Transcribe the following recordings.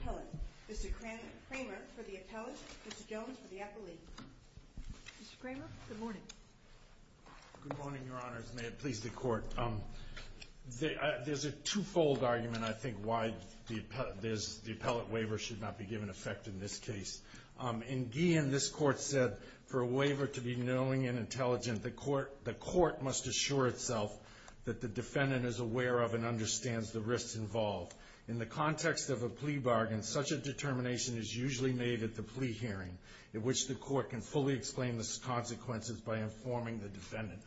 Appellate. Mr. Kramer for the Appellate. Mr. Jones for the Appellate. Mr. Kramer, good morning. Good morning, Your Honors. May it please the Court. There's a two-fold argument, I think, why the Appellate Waiver should not be given effect in this case. In Guillen, this Court said for a waiver to be knowing and intelligent, the Court must assure itself that the defendant is aware of and understands the risks involved. In the context of a plea bargain, such a determination is usually made at the plea hearing, in which the Court can fully explain the consequences by informing the defendant.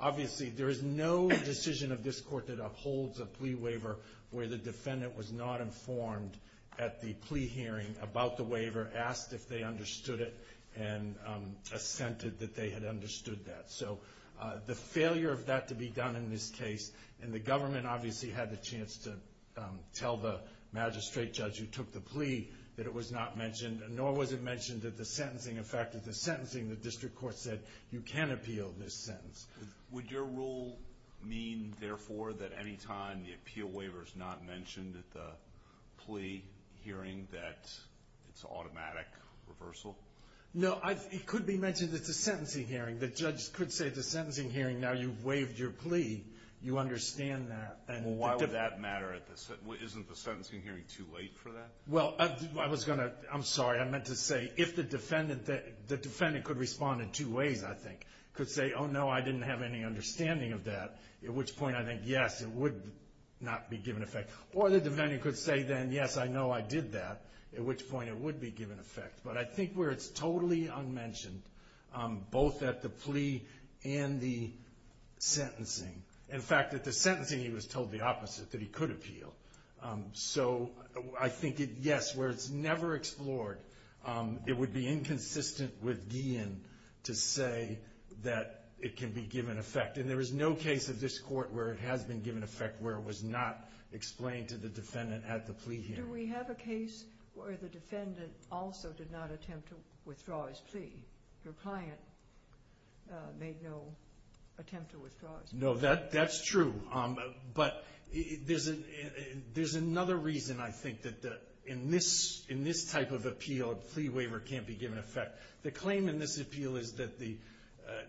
Obviously, there is no decision of this Court that upholds a plea waiver where the defendant was not informed at the plea hearing about the waiver, asked if they understood it, and assented that they had understood that. So, the failure of that to be done in this case, and the government obviously had the chance to tell the magistrate judge who took the plea that it was not mentioned, nor was it mentioned that the sentencing effected the sentencing, the District Court said, you can appeal this sentence. Would your rule mean, therefore, that any time the appeal waiver is not mentioned at the plea hearing that it's an automatic reversal? No, it could be mentioned at the sentencing hearing. The judge could say at the sentencing hearing, now you've waived your plea, you understand that. Well, why would that matter? Isn't the sentencing hearing too late for that? Well, I was going to, I'm sorry, I meant to say if the defendant could respond in two ways, I think. Could say, oh, no, I didn't have any understanding of that, at which point I think, yes, it would not be given effect. Or the defendant could say then, yes, I know I did that, at which point it would be given effect. But I think where it's totally unmentioned, both at the plea and the sentencing, in fact, at the sentencing he was told the opposite, that he could appeal. So I think it, yes, where it's never explored, it would be inconsistent with Guillen to say that it can be given effect. And there is no case of this Court where it has been given effect, where it was not explained to the defendant at the plea hearing. And do we have a case where the defendant also did not attempt to withdraw his plea? Your client made no attempt to withdraw his plea. No, that's true. But there's another reason, I think, that in this type of appeal, a plea waiver can't be given effect. The claim in this appeal is that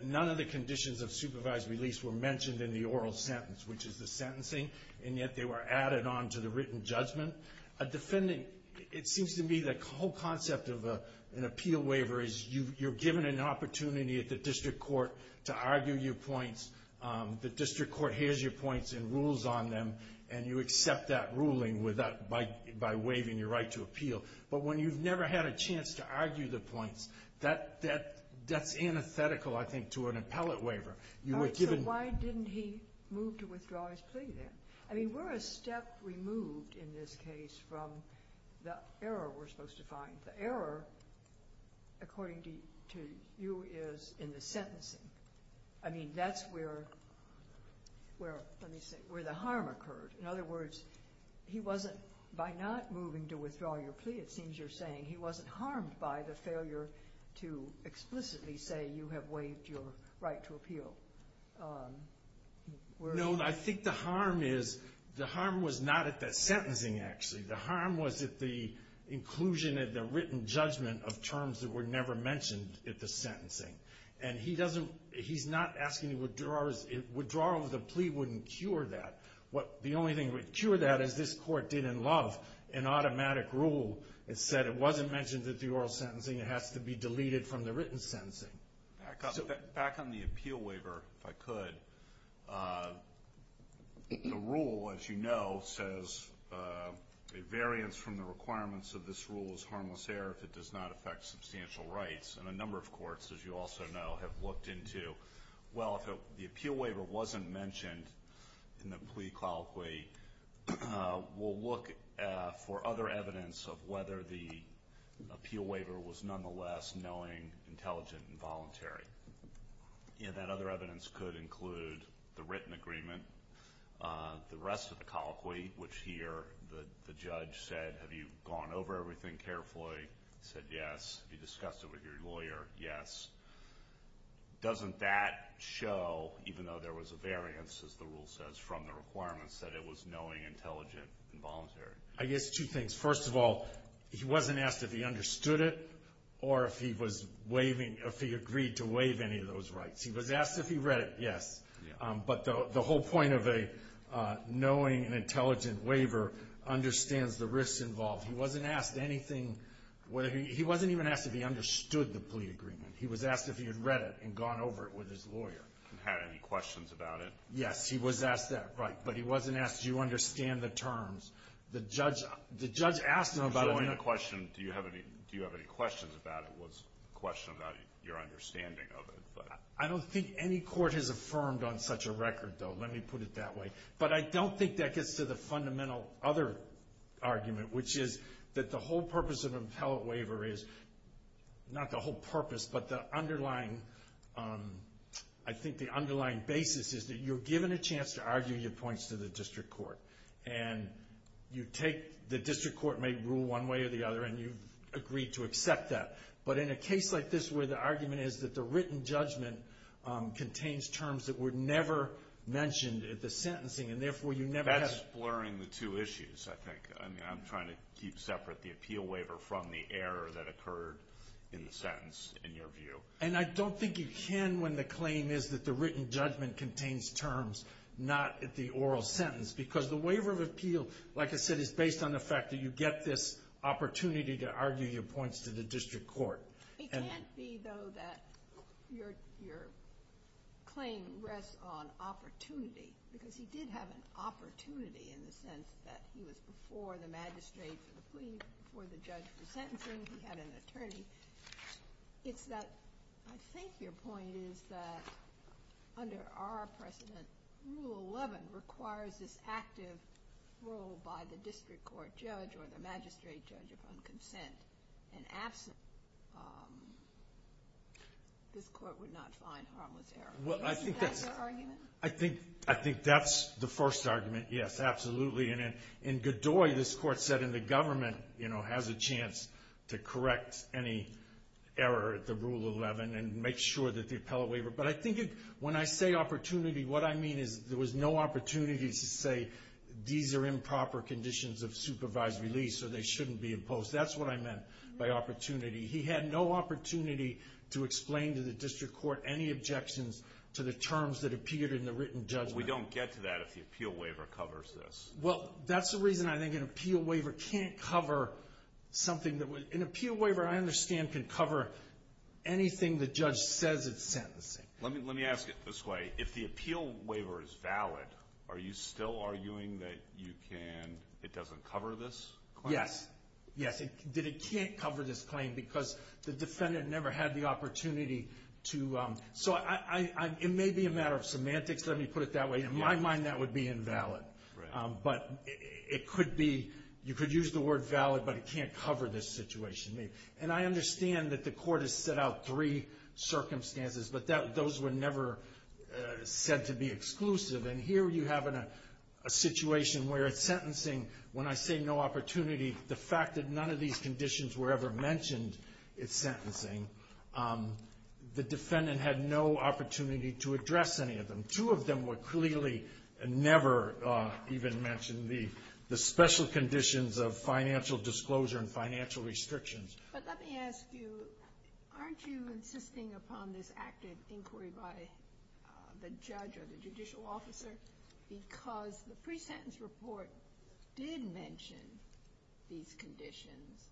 none of the conditions of supervised release were mentioned in the oral sentence, which is the sentencing, and yet they were added on to the written judgment. A defendant, it seems to me the whole concept of an appeal waiver is you're given an opportunity at the district court to argue your points. The district court hears your points and rules on them, and you accept that ruling by waiving your right to appeal. But when you've never had a chance to argue the points, that's antithetical, I think, to an appellate waiver. All right. So why didn't he move to withdraw his plea then? I mean, we're a step removed in this case from the error we're supposed to find. The error, according to you, is in the sentencing. I mean, that's where, let me see, where the harm occurred. In other words, he wasn't, by not moving to withdraw your plea, it seems you're saying he wasn't harmed by the failure to explicitly say you have waived your right to appeal. No, I think the harm is, the harm was not at the sentencing, actually. The harm was at the inclusion of the written judgment of terms that were never mentioned at the sentencing. And he doesn't, he's not asking, withdrawals of the plea wouldn't cure that. What, the only thing that would cure that is this court did in Love, an automatic rule that said it wasn't mentioned at the oral sentencing, it has to be deleted from the written sentencing. Back on the appeal waiver, if I could, the rule, as you know, says a variance from the requirements of this rule is harmless error if it does not affect substantial rights. And a number of courts, as you also know, have looked into, well, if the appeal waiver wasn't mentioned in the plea colloquy, we'll look for other evidence of whether the appeal And that other evidence could include the written agreement, the rest of the colloquy, which here, the judge said, have you gone over everything carefully? He said yes. Have you discussed it with your lawyer? Yes. Doesn't that show, even though there was a variance, as the rule says, from the requirements, that it was knowing, intelligent, and voluntary? I guess two things. First of all, he wasn't asked if he understood it, or if he was waiving, if he agreed to waive any of those rights. He was asked if he read it, yes. But the whole point of a knowing and intelligent waiver understands the risks involved. He wasn't asked anything, he wasn't even asked if he understood the plea agreement. He was asked if he had read it and gone over it with his lawyer. And had any questions about it? Yes, he was asked that, right. But he wasn't asked, do you understand the terms? The judge asked him about it. The question, do you have any questions about it, was a question about your understanding of it. I don't think any court has affirmed on such a record, though, let me put it that way. But I don't think that gets to the fundamental other argument, which is that the whole purpose of an appellate waiver is, not the whole purpose, but the underlying, I think the underlying basis is that you're given a chance to argue your points to the district court. And you take, the district court may rule one way or the other, and you've agreed to accept that. But in a case like this where the argument is that the written judgment contains terms that were never mentioned at the sentencing, and therefore you never have... That's blurring the two issues, I think. I mean, I'm trying to keep separate the appeal waiver from the error that occurred in the sentence, in your view. And I don't think you can when the claim is that the written judgment contains terms, not at the oral sentence. Because the waiver of appeal, like I said, is based on the fact that you get this opportunity to argue your points to the district court. It can't be, though, that your claim rests on opportunity, because he did have an opportunity in the sense that he was before the magistrate for the plea, before the judge for sentencing, he had an attorney. It's that, I think your point is that under our precedent, Rule 11 requires this active role by the district court judge or the magistrate judge upon consent. And absolutely, this court would not find harmless error. Isn't that your argument? I think that's the first argument, yes, absolutely. And in Godoy, this court said, and the government has a chance to correct any error at the Rule 11 and make sure that the appellate waiver... But I think when I say opportunity, what I mean is there was no opportunity to say, these are improper conditions of supervised release so they shouldn't be imposed. That's what I meant by opportunity. He had no opportunity to explain to the district court any objections to the terms that appeared in the written judgment. We don't get to that if the appeal waiver covers this. Well, that's the reason I think an appeal waiver can't cover something that would... An appeal waiver, I understand, can cover anything the judge says it's sentencing. Let me ask it this way. If the appeal waiver is valid, are you still arguing that it doesn't cover this claim? Yes, that it can't cover this claim because the defendant never had the opportunity to... So it may be a matter of semantics, let me put it that way. In my mind, that would be invalid. Right. But it could be, you could use the word valid, but it can't cover this situation. And I understand that the court has set out three circumstances, but those were never said to be exclusive. And here you have a situation where it's sentencing. When I say no opportunity, the fact that none of these conditions were ever mentioned is sentencing. The defendant had no opportunity to address any of them. And two of them were clearly never even mentioned, the special conditions of financial disclosure and financial restrictions. But let me ask you, aren't you insisting upon this active inquiry by the judge or the judicial officer? Because the pre-sentence report did mention these conditions.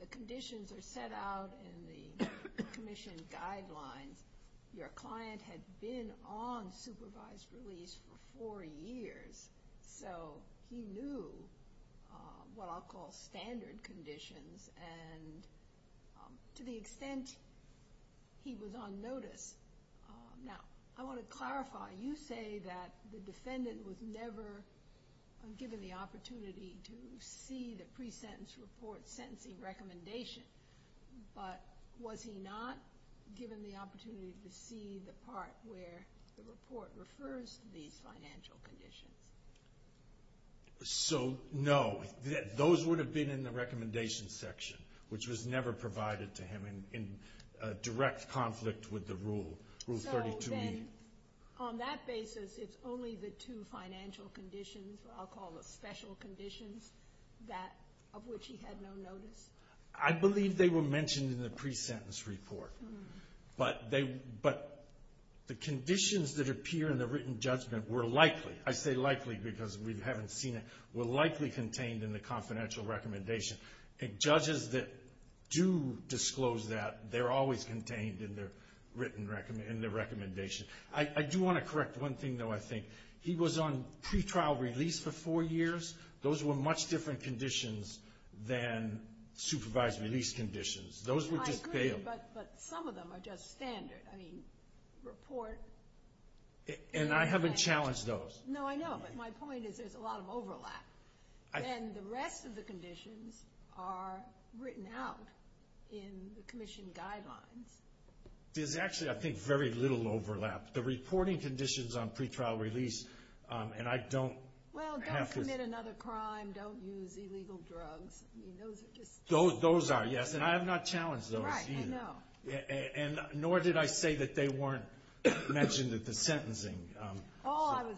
The conditions are set out in the commission guidelines. Your client had been on supervised release for four years, so he knew what I'll call standard conditions, and to the extent he was on notice. Now, I want to clarify, you say that the defendant was never given the opportunity to see the pre-sentence report sentencing recommendation. But was he not given the opportunity to see the part where the report refers to these financial conditions? So, no. Those would have been in the recommendation section, which was never provided to him in direct conflict with the rule, Rule 32b. So then on that basis, it's only the two financial conditions, I'll call the special conditions, that of which he had no notice? I believe they were mentioned in the pre-sentence report. But the conditions that appear in the written judgment were likely, I say likely because we haven't seen it, were likely contained in the confidential recommendation. And judges that do disclose that, they're always contained in their written recommendation. I do want to correct one thing, though, I think. He was on pretrial release for four years. Those were much different conditions than supervised release conditions. Those were just bail. I agree, but some of them are just standard. I mean, report. And I haven't challenged those. No, I know, but my point is there's a lot of overlap. And the rest of the conditions are written out in the commission guidelines. There's actually, I think, very little overlap. The reporting conditions on pretrial release, and I don't have to. Well, don't commit another crime. Don't use illegal drugs. I mean, those are just. Those are, yes, and I have not challenged those either. Right, I know. And nor did I say that they weren't mentioned at the sentencing. All I was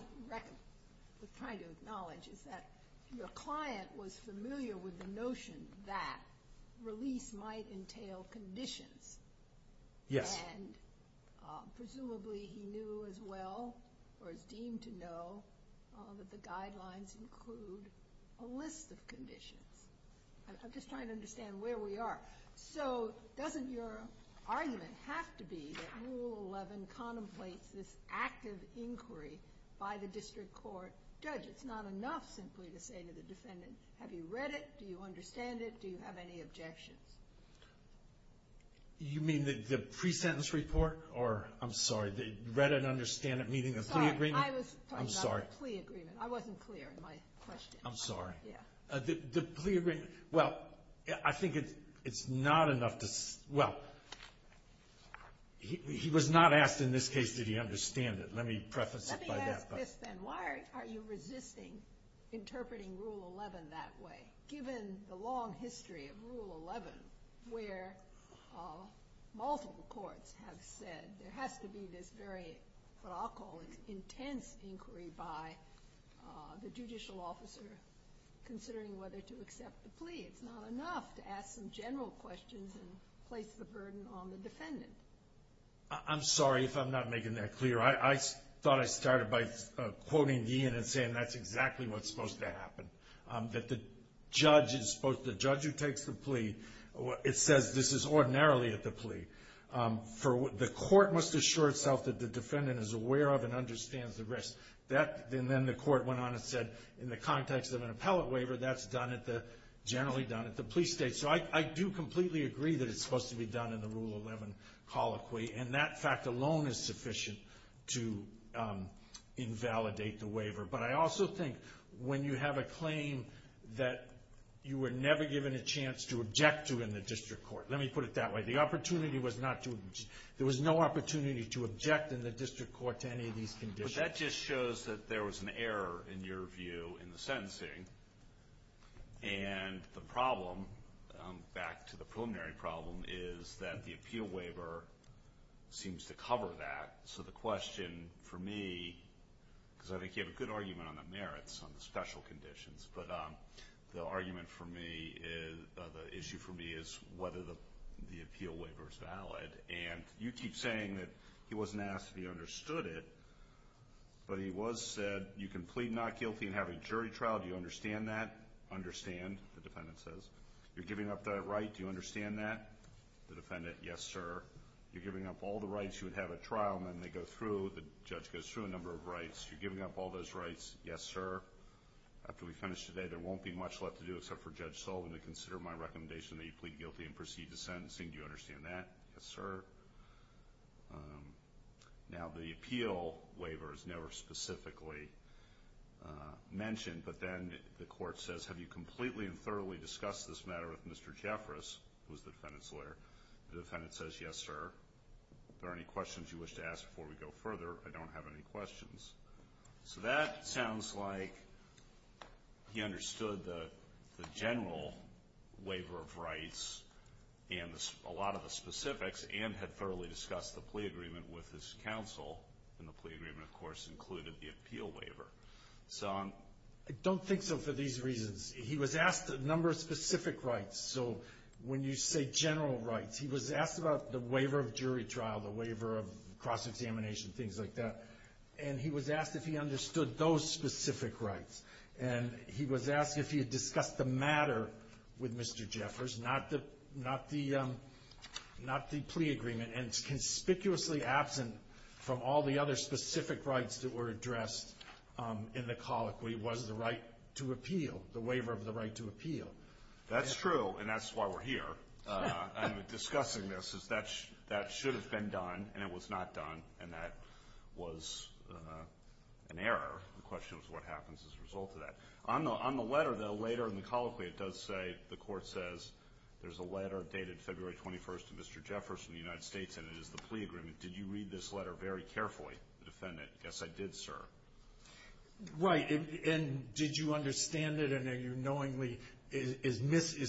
trying to acknowledge is that your client was familiar with the notion that release might entail conditions. Yes. And presumably he knew as well or is deemed to know that the guidelines include a list of conditions. I'm just trying to understand where we are. So doesn't your argument have to be that Rule 11 contemplates this active inquiry by the district court judge? It's not enough simply to say to the defendant, have you read it? Do you understand it? Do you have any objections? You mean the pre-sentence report or, I'm sorry, read and understand it meeting the plea agreement? Sorry, I was talking about the plea agreement. I wasn't clear in my question. I'm sorry. Yeah. The plea agreement. Well, I think it's not enough to. Well, he was not asked in this case did he understand it. Let me preface it by that. Let me ask this then. Why are you resisting interpreting Rule 11 that way? Given the long history of Rule 11 where multiple courts have said there has to be this very, what I'll call, intense inquiry by the judicial officer considering whether to accept the plea. It's not enough to ask some general questions and place the burden on the defendant. I'm sorry if I'm not making that clear. I thought I started by quoting Ian and saying that's exactly what's supposed to happen. That the judge is supposed, the judge who takes the plea, it says this is ordinarily at the plea. The court must assure itself that the defendant is aware of and understands the risk. Then the court went on and said in the context of an appellate waiver, that's generally done at the plea state. So I do completely agree that it's supposed to be done in the Rule 11 colloquy, and that fact alone is sufficient to invalidate the waiver. But I also think when you have a claim that you were never given a chance to object to in the district court. Let me put it that way. The opportunity was not to, there was no opportunity to object in the district court to any of these conditions. But that just shows that there was an error in your view in the sentencing. And the problem, back to the preliminary problem, is that the appeal waiver seems to cover that. So the question for me, because I think you have a good argument on the merits, on the special conditions. But the argument for me, the issue for me is whether the appeal waiver is valid. And you keep saying that he wasn't asked if he understood it. But he was said, you can plead not guilty and have a jury trial. Do you understand that? Understand, the defendant says. You're giving up that right. Do you understand that? The defendant, yes, sir. You're giving up all the rights. You would have a trial. And then they go through, the judge goes through a number of rights. You're giving up all those rights. Yes, sir. After we finish today, there won't be much left to do except for Judge Sullivan to consider my recommendation that you plead guilty and proceed to sentencing. Do you understand that? Yes, sir. Now, the appeal waiver is never specifically mentioned. But then the court says, have you completely and thoroughly discussed this matter with Mr. Jeffress, who is the defendant's lawyer? The defendant says, yes, sir. Are there any questions you wish to ask before we go further? I don't have any questions. So that sounds like he understood the general waiver of rights and a lot of the specifics and had thoroughly discussed the plea agreement with his counsel. And the plea agreement, of course, included the appeal waiver. I don't think so for these reasons. He was asked a number of specific rights. So when you say general rights, he was asked about the waiver of jury trial, the waiver of cross-examination, things like that. And he was asked if he understood those specific rights. And he was asked if he had discussed the matter with Mr. Jeffress, not the plea agreement. And conspicuously absent from all the other specific rights that were addressed in the colloquy was the right to appeal, the waiver of the right to appeal. That's true, and that's why we're here. I'm discussing this. That should have been done, and it was not done, and that was an error. The question was what happens as a result of that. On the letter, though, later in the colloquy, it does say, the court says, there's a letter dated February 21st to Mr. Jeffress from the United States, and it is the plea agreement. Did you read this letter very carefully, defendant? Yes, I did, sir. Right, and did you understand it, and are you knowingly is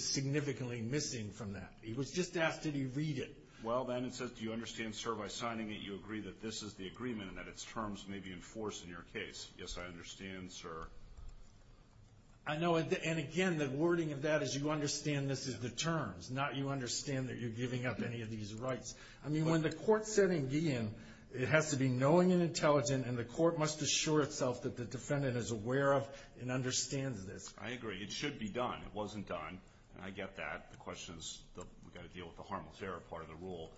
significantly missing from that? He was just asked, did he read it? Well, then it says, do you understand, sir, by signing it, you agree that this is the agreement and that its terms may be enforced in your case. Yes, I understand, sir. I know, and again, the wording of that is you understand this is the terms, not you understand that you're giving up any of these rights. I mean, when the court said in Guillen, it has to be knowing and intelligent, and the court must assure itself that the defendant is aware of and understands this. I agree. It should be done. It wasn't done, and I get that. The question is we've got to deal with the harmless error part of the rule.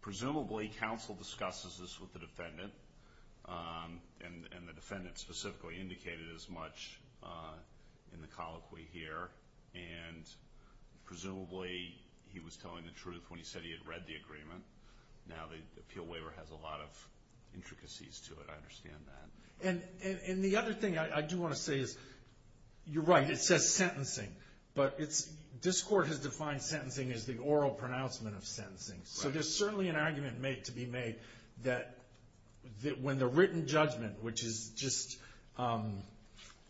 Presumably, counsel discusses this with the defendant, and the defendant specifically indicated as much in the colloquy here, and presumably he was telling the truth when he said he had read the agreement. Now the appeal waiver has a lot of intricacies to it. I understand that. And the other thing I do want to say is you're right, it says sentencing, but this court has defined sentencing as the oral pronouncement of sentencing. So there's certainly an argument to be made that when the written judgment, which just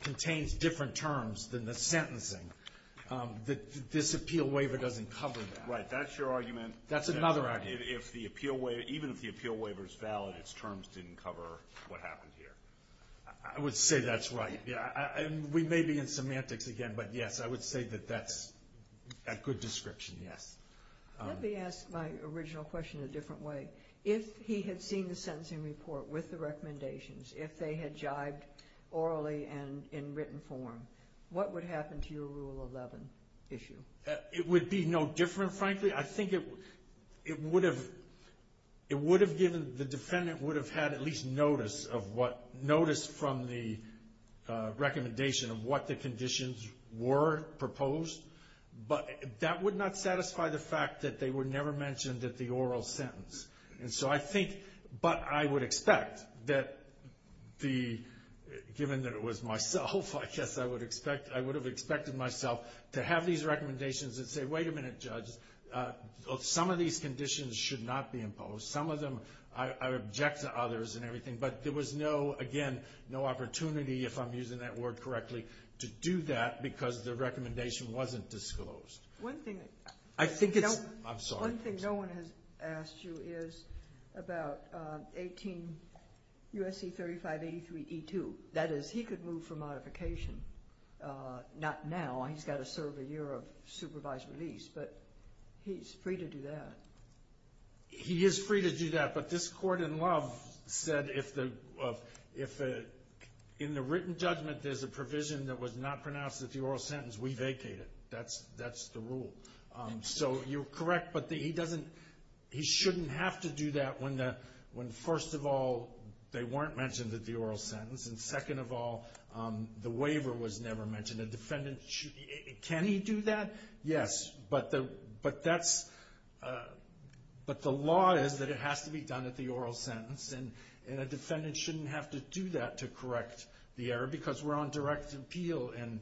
contains different terms than the sentencing, that this appeal waiver doesn't cover that. Right. That's your argument. That's another argument. Even if the appeal waiver is valid, its terms didn't cover what happened here. I would say that's right. We may be in semantics again, but, yes, I would say that that's a good description, yes. Let me ask my original question a different way. If he had seen the sentencing report with the recommendations, if they had jibed orally and in written form, what would happen to your Rule 11 issue? It would be no different, frankly. I think it would have given the defendant would have had at least notice of what, notice from the recommendation of what the conditions were proposed, but that would not satisfy the fact that they were never mentioned at the oral sentence. And so I think, but I would expect that the, given that it was myself, I guess I would expect, I would have expected myself to have these recommendations and say, wait a minute, judge, some of these conditions should not be imposed. Some of them I object to others and everything, but there was no, again, no opportunity, if I'm using that word correctly, to do that because the recommendation wasn't disclosed. One thing. I think it's, I'm sorry. One thing no one has asked you is about 18 U.S.C. 3583E2. That is, he could move for modification. Not now. He's got to serve a year of supervised release, but he's free to do that. He is free to do that, but this court in Love said if the, if in the written judgment there's a provision that was not pronounced at the oral sentence, we vacate it. That's the rule. So you're correct, but he doesn't, he shouldn't have to do that when the, when first of all, they weren't mentioned at the oral sentence, and second of all, the waiver was never mentioned. A defendant, can he do that? Yes, but that's, but the law is that it has to be done at the oral sentence, and a defendant shouldn't have to do that to correct the error because we're on direct appeal and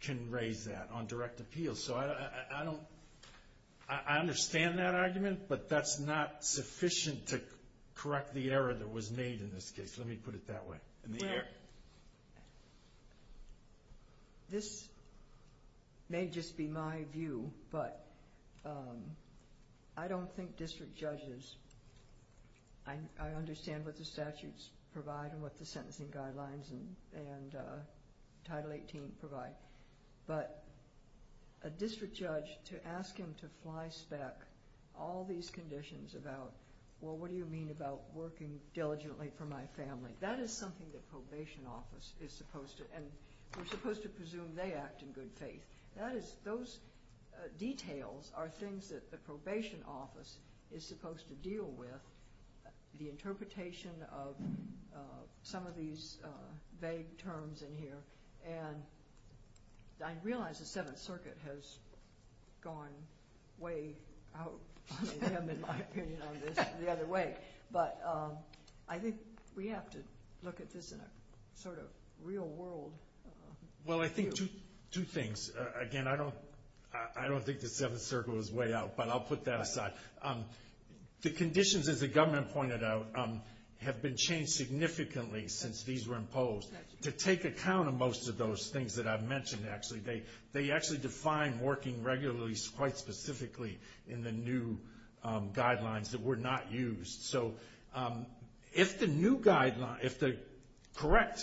can raise that on direct appeal. So I don't, I understand that argument, but that's not sufficient to correct the error that was made in this case. Let me put it that way. In the air. This may just be my view, but I don't think district judges, I understand what the statutes provide and what the sentencing guidelines and Title 18 provide, but a district judge to ask him to fly spec all these conditions about, well, what do you mean about working diligently for my family? That is something that probation office is supposed to, and we're supposed to presume they act in good faith. That is, those details are things that the probation office is supposed to deal with, the interpretation of some of these vague terms in here, and I realize the Seventh Circuit has gone way out in my opinion on this the other way, but I think we have to look at this in a sort of real world view. Well, I think two things. Again, I don't think the Seventh Circuit was way out, but I'll put that aside. The conditions, as the government pointed out, have been changed significantly since these were imposed. To take account of most of those things that I've mentioned, actually, they actually define working regularly quite specifically in the new guidelines that were not used. So if the new guidelines, if the correct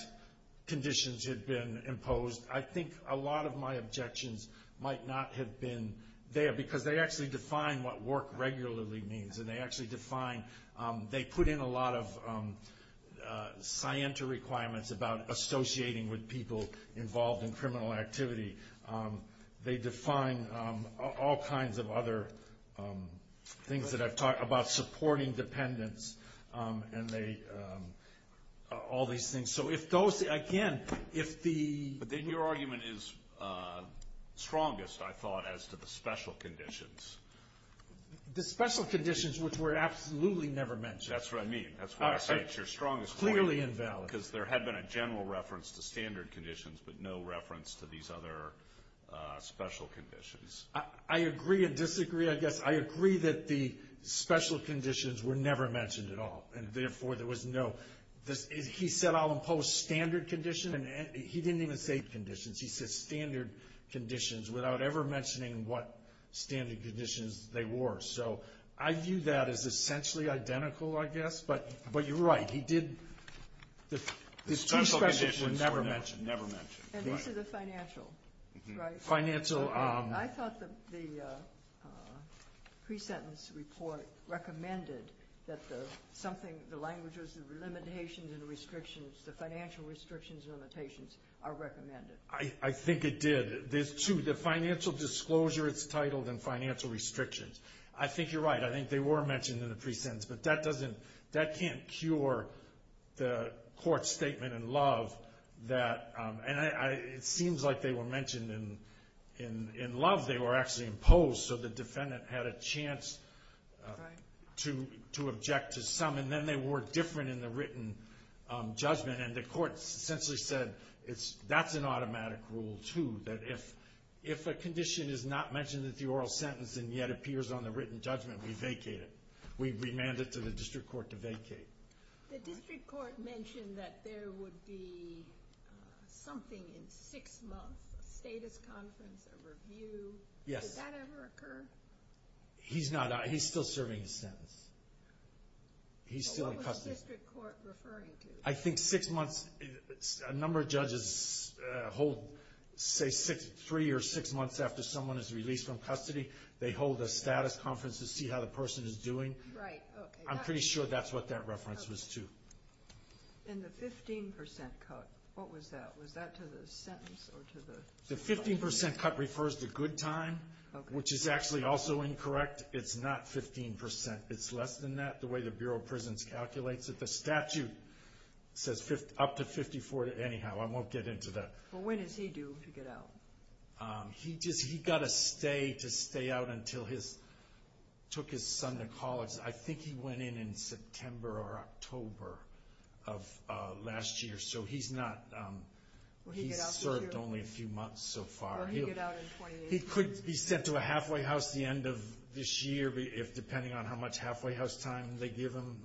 conditions had been imposed, I think a lot of my objections might not have been there because they actually define what work regularly means, and they actually define, they put in a lot of scienter requirements about associating with people involved in criminal activity. They define all kinds of other things that I've talked about, supporting dependents and all these things. So if those, again, if the- But then your argument is strongest, I thought, as to the special conditions. The special conditions, which were absolutely never mentioned. That's what I mean. That's why I said it's your strongest point. Clearly invalid. Because there had been a general reference to standard conditions, but no reference to these other special conditions. I agree and disagree, I guess. I agree that the special conditions were never mentioned at all, and therefore there was no, he said I'll impose standard conditions, and he didn't even say conditions. He said standard conditions without ever mentioning what standard conditions they were. So I view that as essentially identical, I guess, but you're right. The special conditions were never mentioned. And these are the financial, right? Financial- I thought the pre-sentence report recommended that something, the languages, the limitations and restrictions, the financial restrictions and limitations are recommended. I think it did. There's two. The financial disclosure, it's titled, and financial restrictions. I think you're right. I think they were mentioned in the pre-sentence. But that doesn't, that can't cure the court's statement in Love that, and it seems like they were mentioned in Love. They were actually imposed so the defendant had a chance to object to some, and then they were different in the written judgment. And the court essentially said that's an automatic rule, too, that if a condition is not mentioned in the oral sentence and yet appears on the written judgment, we vacate it. We remand it to the district court to vacate. The district court mentioned that there would be something in six months, a status conference, a review. Yes. Did that ever occur? He's not, he's still serving his sentence. He's still in custody. What was the district court referring to? I think six months, a number of judges hold, say, three or six months after someone is released from custody, they hold a status conference to see how the person is doing. Right. I'm pretty sure that's what that reference was to. And the 15% cut, what was that? Was that to the sentence or to the? The 15% cut refers to good time, which is actually also incorrect. It's not 15%. It's less than that, the way the Bureau of Prisons calculates it. The statute says up to 54. Anyhow, I won't get into that. Well, when is he due to get out? He got a stay to stay out until he took his son to college. I think he went in in September or October of last year. So he's not, he's served only a few months so far. Will he get out in 2018? He could be sent to a halfway house the end of this year, if depending on how much halfway house time they give him,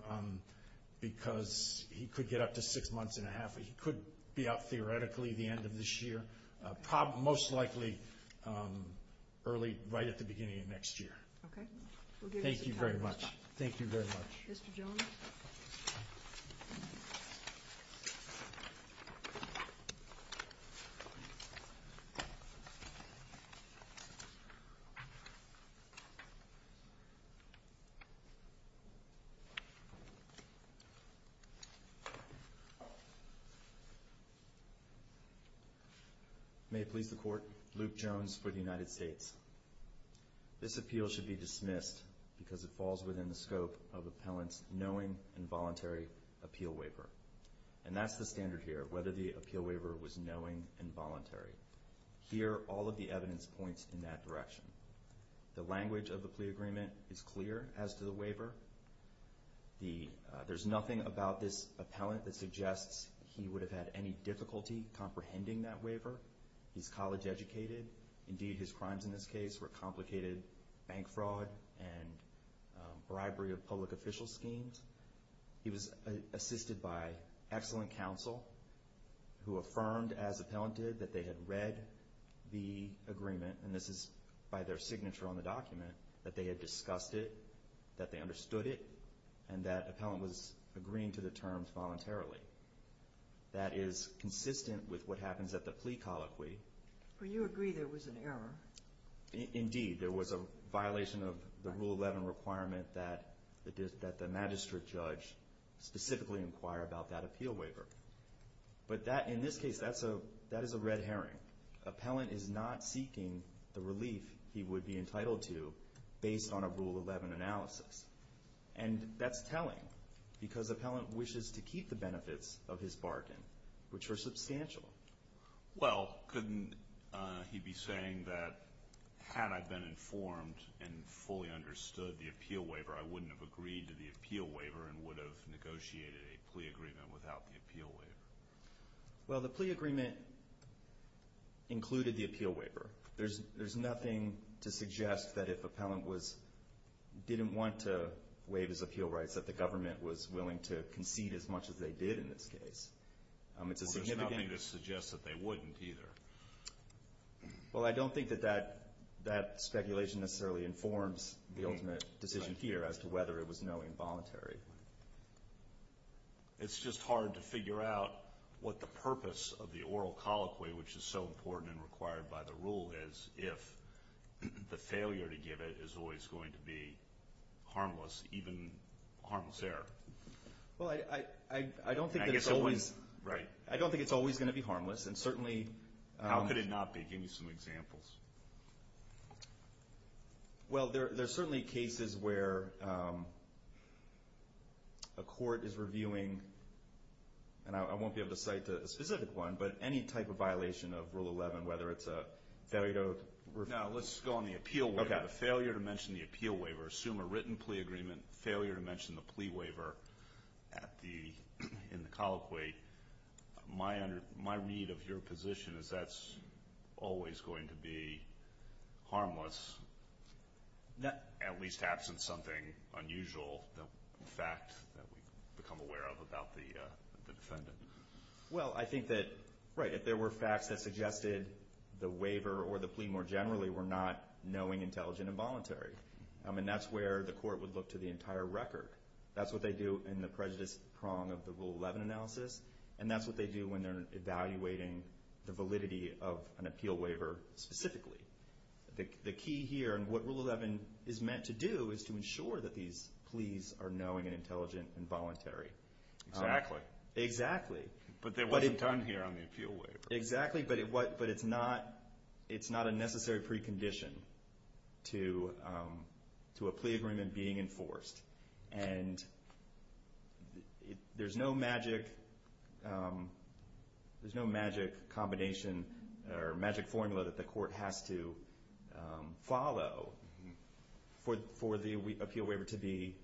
because he could get up to six months and a half. He could be out theoretically the end of this year, most likely early right at the beginning of next year. Okay. We'll give you some time. Thank you very much. Thank you very much. Mr. Jones. May it please the Court, Luke Jones for the United States. This appeal should be dismissed because it falls within the scope of appellant's knowing and voluntary appeal waiver. And that's the standard here, whether the appeal waiver was knowing and voluntary. Here, all of the evidence points in that direction. The language of the plea agreement is clear as to the waiver. There's nothing about this appellant that suggests he would have had any difficulty comprehending that waiver. He's college educated. Indeed, his crimes in this case were complicated bank fraud and bribery of public official schemes. He was assisted by excellent counsel who affirmed, as appellant did, that they had read the agreement, and this is by their signature on the document, that they had discussed it, that they understood it, and that appellant was agreeing to the terms voluntarily. That is consistent with what happens at the plea colloquy. But you agree there was an error. Indeed, there was a violation of the Rule 11 requirement that the magistrate judge specifically inquire about that appeal waiver. But in this case, that is a red herring. Appellant is not seeking the relief he would be entitled to based on a Rule 11 analysis. And that's telling because appellant wishes to keep the benefits of his bargain, which were substantial. Well, couldn't he be saying that, had I been informed and fully understood the appeal waiver, I wouldn't have agreed to the appeal waiver and would have negotiated a plea agreement without the appeal waiver? Well, the plea agreement included the appeal waiver. There's nothing to suggest that if appellant didn't want to waive his appeal rights that the government was willing to concede as much as they did in this case. There's nothing to suggest that they wouldn't either. Well, I don't think that that speculation necessarily informs the ultimate decision here as to whether it was knowing voluntary. It's just hard to figure out what the purpose of the oral colloquy, which is so important and required by the rule, is if the failure to give it is always going to be harmless, even harmless error. Well, I don't think it's always going to be harmless. How could it not be? Give me some examples. Well, there are certainly cases where a court is reviewing, and I won't be able to cite a specific one, but any type of violation of Rule 11, whether it's a failure to review. No, let's go on the appeal waiver. The failure to mention the appeal waiver, assume a written plea agreement, failure to mention the plea waiver in the colloquy, my read of your position is that's always going to be harmless, at least absent something unusual, a fact that we've become aware of about the defendant. Well, I think that, right, if there were facts that suggested the waiver or the plea more generally were not knowing, intelligent, and voluntary. And that's where the court would look to the entire record. That's what they do in the prejudice prong of the Rule 11 analysis, and that's what they do when they're evaluating the validity of an appeal waiver specifically. The key here, and what Rule 11 is meant to do, is to ensure that these pleas are knowing and intelligent and voluntary. Exactly. Exactly. But there wasn't done here on the appeal waiver. Exactly, but it's not a necessary precondition to a plea agreement being enforced. And there's no magic combination or magic formula that the court has to follow for the appeal waiver to be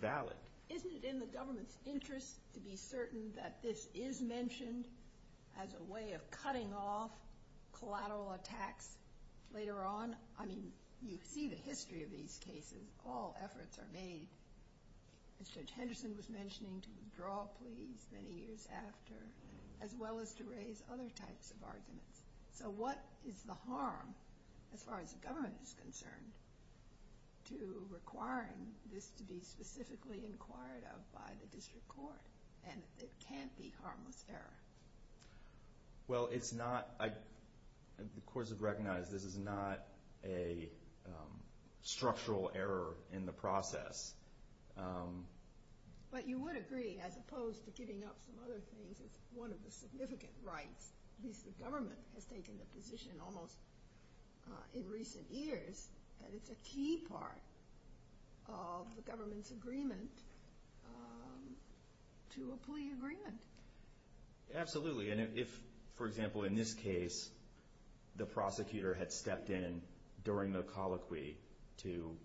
valid. Isn't it in the government's interest to be certain that this is mentioned as a way of cutting off collateral attacks later on? I mean, you see the history of these cases. All efforts are made, as Judge Henderson was mentioning, to withdraw pleas many years after, So what is the harm, as far as the government is concerned, to requiring this to be specifically inquired of by the district court? And it can't be harmless error. Well, it's not. The courts have recognized this is not a structural error in the process. But you would agree, as opposed to giving up some other things, one of the significant rights, at least the government has taken the position almost in recent years, that it's a key part of the government's agreement to a plea agreement. Absolutely. And if, for example, in this case, the prosecutor had stepped in during the colloquy to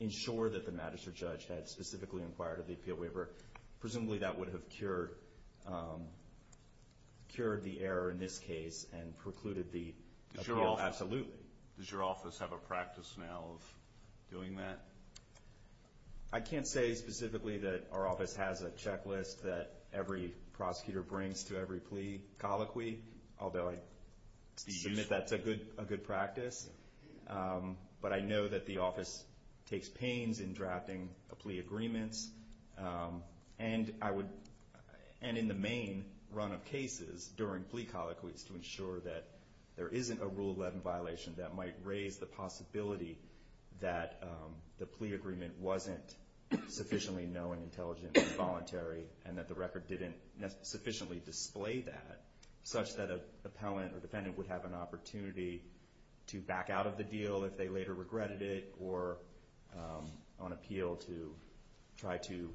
ensure that the magistrate judge had specifically inquired of the appeal waiver, presumably that would have cured the error in this case and precluded the appeal. Absolutely. Does your office have a practice now of doing that? I can't say specifically that our office has a checklist that every prosecutor brings to every plea colloquy, although I submit that's a good practice. But I know that the office takes pains in drafting plea agreements, and in the main run of cases during plea colloquies, to ensure that there isn't a Rule 11 violation that might raise the possibility that the plea agreement wasn't sufficiently known, intelligent, and voluntary, and that the record didn't sufficiently display that, such that an appellant or defendant would have an opportunity to back out of the deal if they later regretted it or on appeal to try to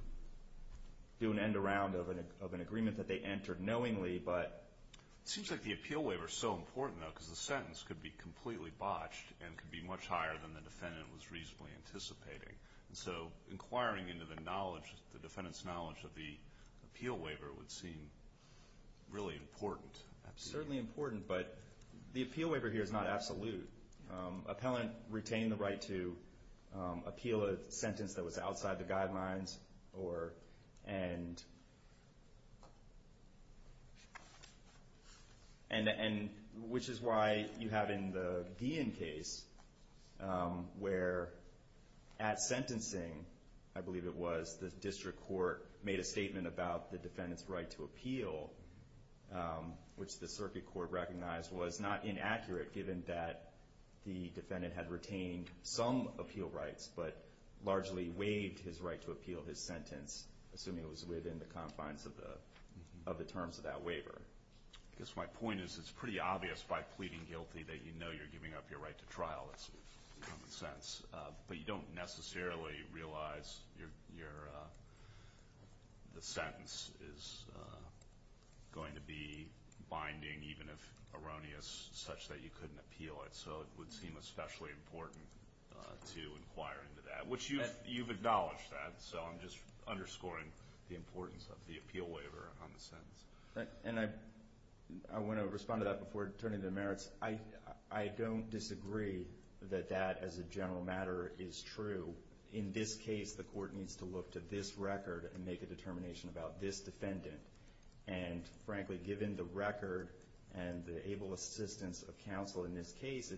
do an end-around of an agreement that they entered knowingly. It seems like the appeal waiver is so important, though, because the sentence could be completely botched and could be much higher than the defendant was reasonably anticipating. So inquiring into the defendant's knowledge of the appeal waiver would seem really important. Certainly important, but the appeal waiver here is not absolute. Appellant retained the right to appeal a sentence that was outside the guidelines, which is why you have in the Guillen case, where at sentencing, I believe it was, the district court made a statement about the defendant's right to appeal, which the circuit court recognized was not inaccurate, given that the defendant had retained some appeal rights, but largely waived his right to appeal his sentence, assuming it was within the confines of the terms of that waiver. I guess my point is it's pretty obvious by pleading guilty that you know you're giving up your right to trial. That's common sense. But you don't necessarily realize the sentence is going to be binding, even if erroneous, such that you couldn't appeal it. So it would seem especially important to inquire into that, which you've acknowledged that. So I'm just underscoring the importance of the appeal waiver on the sentence. And I want to respond to that before turning to the merits. I don't disagree that that, as a general matter, is true. In this case, the court needs to look to this record and make a determination about this defendant. And frankly, given the record and the able assistance of counsel in this case,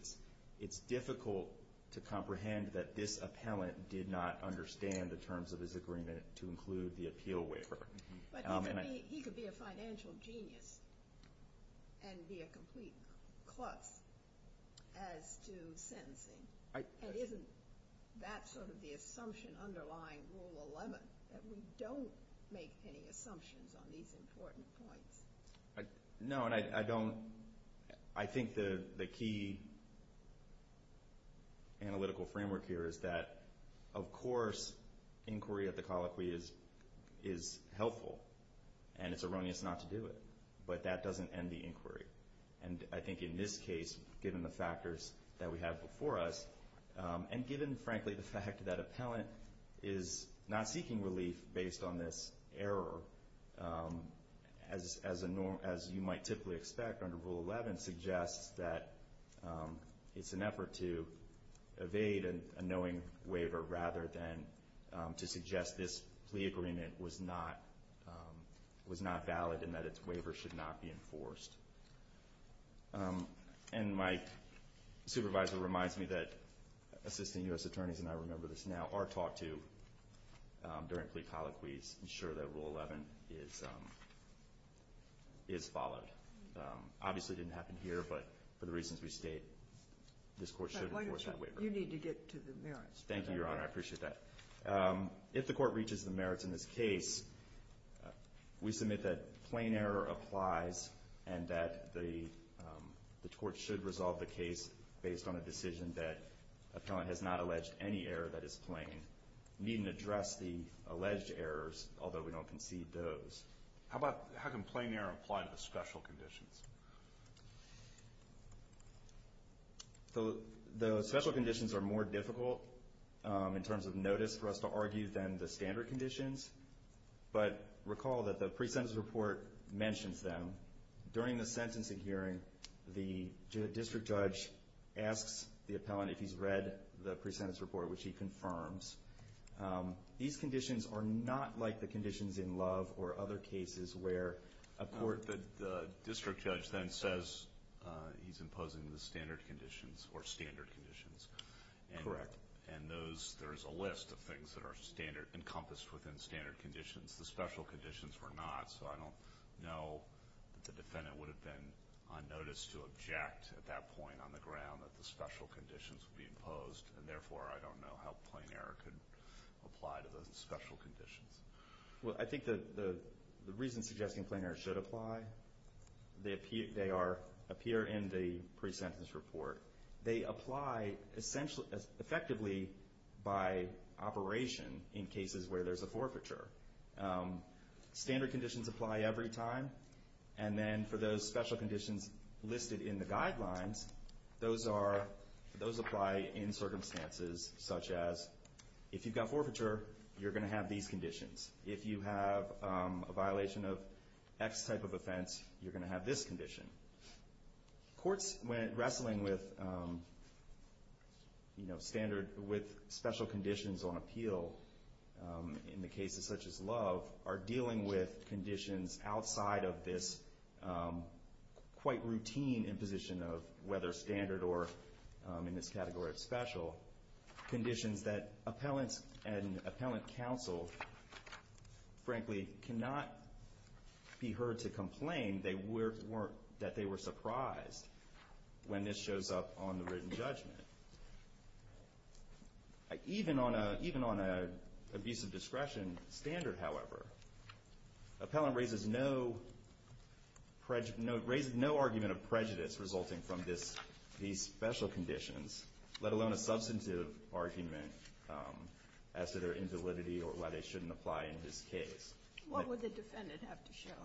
it's difficult to comprehend that this appellant did not understand the terms of his agreement to include the appeal waiver. But he could be a financial genius and be a complete klutz as to sentencing. And isn't that sort of the assumption underlying Rule 11, that we don't make any assumptions on these important points? No, and I don't – I think the key analytical framework here is that, of course, inquiry at the colloquy is helpful. And it's erroneous not to do it. And I think in this case, given the factors that we have before us, and given, frankly, the fact that appellant is not seeking relief based on this error, as you might typically expect under Rule 11, suggests that it's an effort to evade a knowing waiver rather than to suggest this plea agreement was not valid and that its waiver should not be enforced. And my supervisor reminds me that assistant U.S. attorneys, and I remember this now, are taught to, during plea colloquies, ensure that Rule 11 is followed. Obviously, it didn't happen here, but for the reasons we state, this court should enforce that waiver. You need to get to the merits. Thank you, Your Honor. I appreciate that. If the court reaches the merits in this case, we submit that plain error applies and that the court should resolve the case based on a decision that appellant has not alleged any error that is plain. We needn't address the alleged errors, although we don't concede those. How can plain error apply to the special conditions? The special conditions are more difficult in terms of notice for us to argue than the standard conditions, but recall that the pre-sentence report mentions them. During the sentencing hearing, the district judge asks the appellant if he's read the pre-sentence report, which he confirms. These conditions are not like the conditions in Love or other cases where a court— The district judge then says he's imposing the standard conditions or standard conditions. Correct. And there is a list of things that are encompassed within standard conditions. The special conditions were not, so I don't know that the defendant would have been on notice to object at that point on the ground that the special conditions would be imposed, and therefore I don't know how plain error could apply to those special conditions. Well, I think the reasons suggesting plain error should apply, they appear in the pre-sentence report. They apply effectively by operation in cases where there's a forfeiture. Standard conditions apply every time, and then for those special conditions listed in the guidelines, those apply in circumstances such as if you've got forfeiture, you're going to have these conditions. If you have a violation of X type of offense, you're going to have this condition. Courts, when wrestling with special conditions on appeal in the cases such as Love, are dealing with conditions outside of this quite routine imposition of whether standard or, in this category of special, conditions that appellants and appellant counsel, frankly, cannot be heard to complain that they were surprised when this shows up on the written judgment. Even on an abusive discretion standard, however, appellant raises no argument of prejudice resulting from these special conditions, let alone a substantive argument as to their invalidity or why they shouldn't apply in this case. What would the defendant have to show?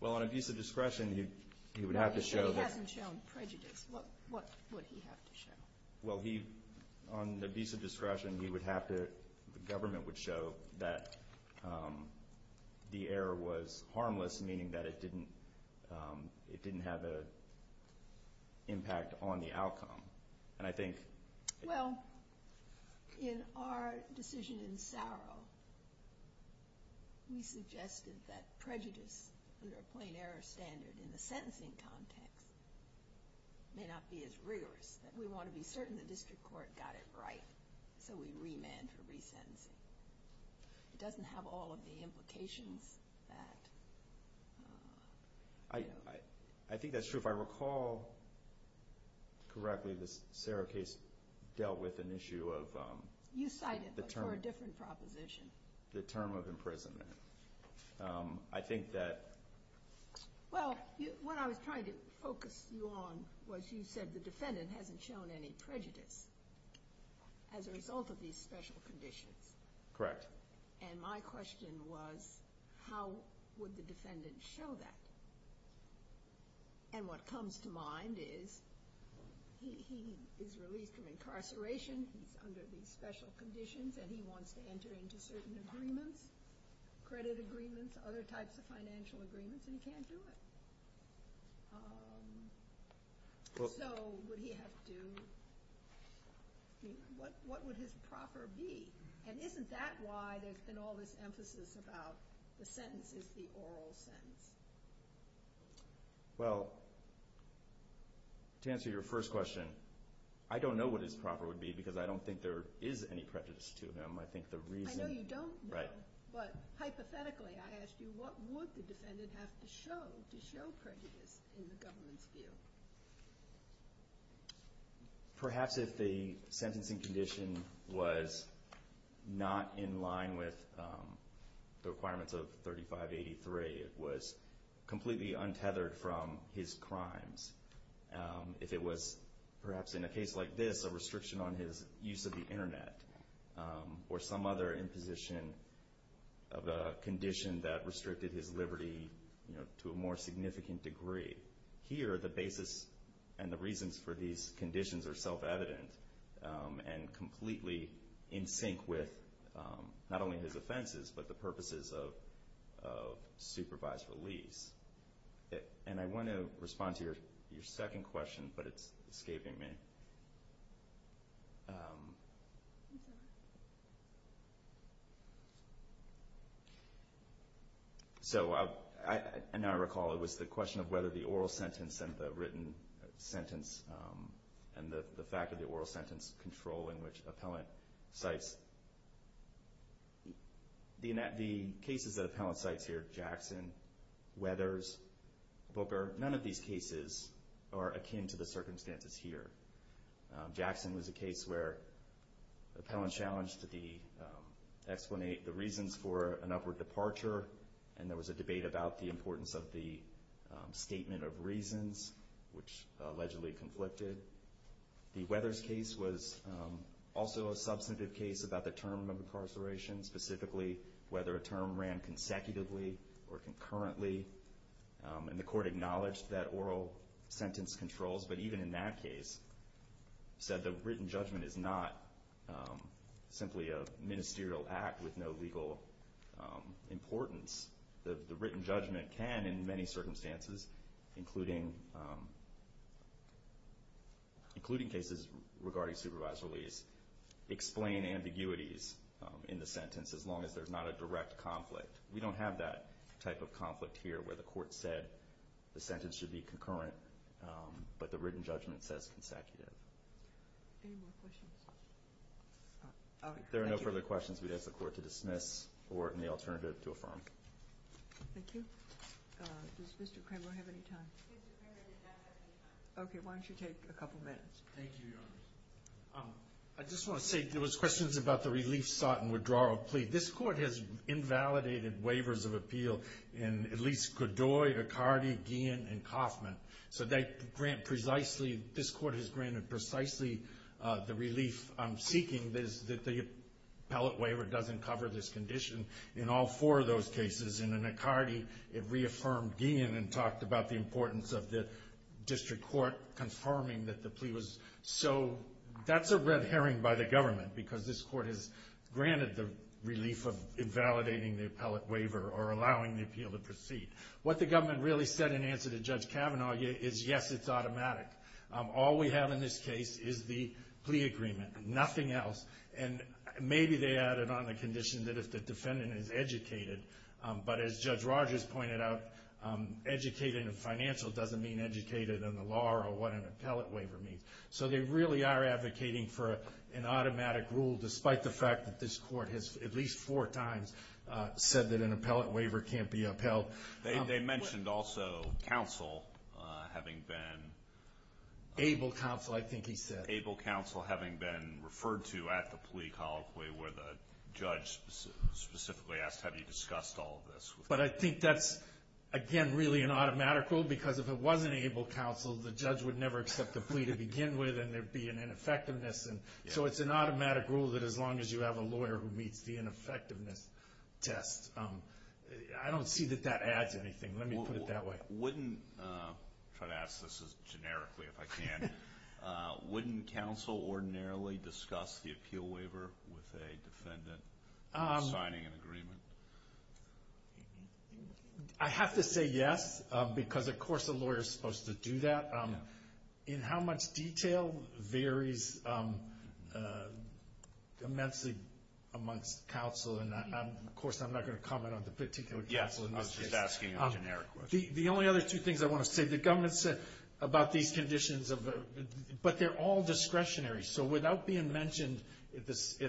Well, on abusive discretion, he would have to show that... If he hadn't shown prejudice, what would he have to show? Well, on abusive discretion, he would have to... The government would show that the error was harmless, meaning that it didn't have an impact on the outcome. And I think... Well, in our decision in Saro, we suggested that prejudice under a plain error standard in the sentencing context may not be as rigorous, that we want to be certain the district court got it right, so we remand for resentencing. It doesn't have all of the implications that... I think that's true. If I recall correctly, the Saro case dealt with an issue of... You cited, but for a different proposition. The term of imprisonment. I think that... Well, what I was trying to focus you on was you said the defendant hasn't shown any prejudice as a result of these special conditions. Correct. And my question was, how would the defendant show that? And what comes to mind is, he is released from incarceration, he's under these special conditions, and he wants to enter into certain agreements, credit agreements, other types of financial agreements, and he can't do it. So would he have to... What would his proper be? And isn't that why there's been all this emphasis about the sentence is the oral sentence? Well, to answer your first question, I don't know what his proper would be because I don't think there is any prejudice to him. I think the reason... I know you don't know. Right. But hypothetically, I asked you, what would the defendant have to show to show prejudice in the government's view? Perhaps if the sentencing condition was not in line with the requirements of 3583, it was completely untethered from his crimes. If it was, perhaps in a case like this, a restriction on his use of the Internet, or some other imposition of a condition that restricted his liberty to a more significant degree. Here, the basis and the reasons for these conditions are self-evident and completely in sync with not only his offenses, but the purposes of supervised release. And I want to respond to your second question, but it's escaping me. I'm sorry. So, now I recall, it was the question of whether the oral sentence and the written sentence and the fact of the oral sentence control in which appellant cites... The cases that appellant cites here, Jackson, Weathers, Booker, none of these cases are akin to the circumstances here. Jackson was a case where appellant challenged the reasons for an upward departure, and there was a debate about the importance of the statement of reasons, which allegedly conflicted. The Weathers case was also a substantive case about the term of incarceration, specifically whether a term ran consecutively or concurrently, and the court acknowledged that oral sentence controls, but even in that case, said the written judgment is not simply a ministerial act with no legal importance. The written judgment can, in many circumstances, including cases regarding supervised release, explain ambiguities in the sentence as long as there's not a direct conflict. We don't have that type of conflict here where the court said the sentence should be concurrent, but the written judgment says consecutive. Any more questions? If there are no further questions, we'd ask the court to dismiss or any alternative to affirm. Thank you. Does Mr. Cranmer have any time? Mr. Cranmer did not have any time. Okay, why don't you take a couple minutes? Thank you, Your Honor. I just want to say there was questions about the relief sought and withdrawal plea. This court has invalidated waivers of appeal in at least Godoy, Icardi, Guillen, and Kauffman, so they grant precisely, this court has granted precisely the relief seeking that the appellate waiver doesn't cover this condition in all four of those cases. In Icardi, it reaffirmed Guillen and talked about the importance of the district court confirming that the plea was. So that's a red herring by the government, because this court has granted the relief of invalidating the appellate waiver or allowing the appeal to proceed. What the government really said in answer to Judge Kavanaugh is yes, it's automatic. All we have in this case is the plea agreement, nothing else, and maybe they added on the condition that if the defendant is educated, but as Judge Rogers pointed out, educated in financial doesn't mean educated in the law or what an appellate waiver means. So they really are advocating for an automatic rule, despite the fact that this court has at least four times said that an appellate waiver can't be upheld. They mentioned also counsel having been. Able counsel, I think he said. Able counsel having been referred to at the plea colloquy where the judge specifically asked have you discussed all of this. But I think that's, again, really an automatic rule, because if it wasn't able counsel, the judge would never accept the plea to begin with, and there would be an ineffectiveness. So it's an automatic rule that as long as you have a lawyer who meets the ineffectiveness test. I don't see that that adds anything. Let me put it that way. Wouldn't, try to ask this as generically if I can. Wouldn't counsel ordinarily discuss the appeal waiver with a defendant signing an agreement? I have to say yes, because of course a lawyer is supposed to do that. In how much detail varies immensely amongst counsel, and of course I'm not going to comment on the particular counsel in this case. I was just asking a generic question. The only other two things I want to say. The government said about these conditions, but they're all discretionary. So without being mentioned at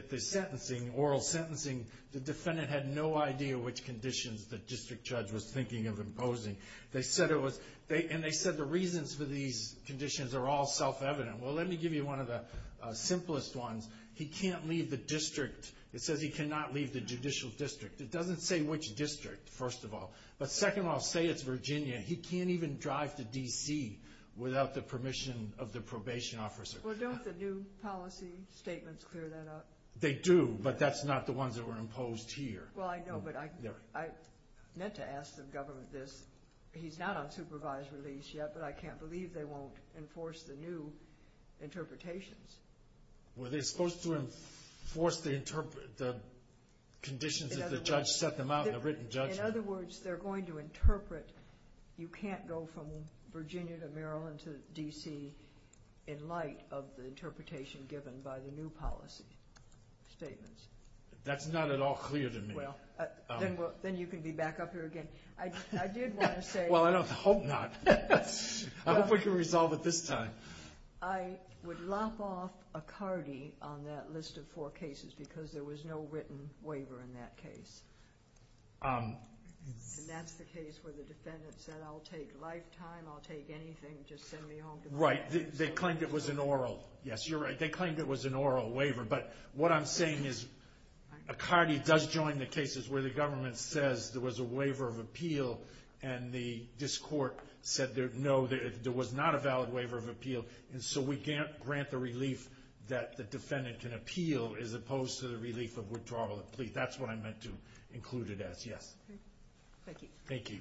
the sentencing, oral sentencing, the defendant had no idea which conditions the district judge was thinking of imposing. They said it was, and they said the reasons for these conditions are all self-evident. Well, let me give you one of the simplest ones. He can't leave the district. It says he cannot leave the judicial district. It doesn't say which district, first of all. But second of all, say it's Virginia. He can't even drive to D.C. without the permission of the probation officer. Well, don't the new policy statements clear that up? They do, but that's not the ones that were imposed here. Well, I know, but I meant to ask the government this. He's not on supervised release yet, but I can't believe they won't enforce the new interpretations. Well, they're supposed to enforce the conditions that the judge set them out in, the written judgment. In other words, they're going to interpret you can't go from Virginia to Maryland to D.C. in light of the interpretation given by the new policy statements. That's not at all clear to me. Well, then you can be back up here again. I did want to say. Well, I hope not. I hope we can resolve it this time. I would lop off Acardi on that list of four cases because there was no written waiver in that case. And that's the case where the defendant said I'll take lifetime, I'll take anything, just send me home. Right. They claimed it was an oral. Yes, you're right. They claimed it was an oral waiver. But what I'm saying is Acardi does join the cases where the government says there was a waiver of appeal and this court said no, there was not a valid waiver of appeal. And so we grant the relief that the defendant can appeal as opposed to the relief of withdrawal of plea. That's what I meant to include it as. Thank you. Thank you.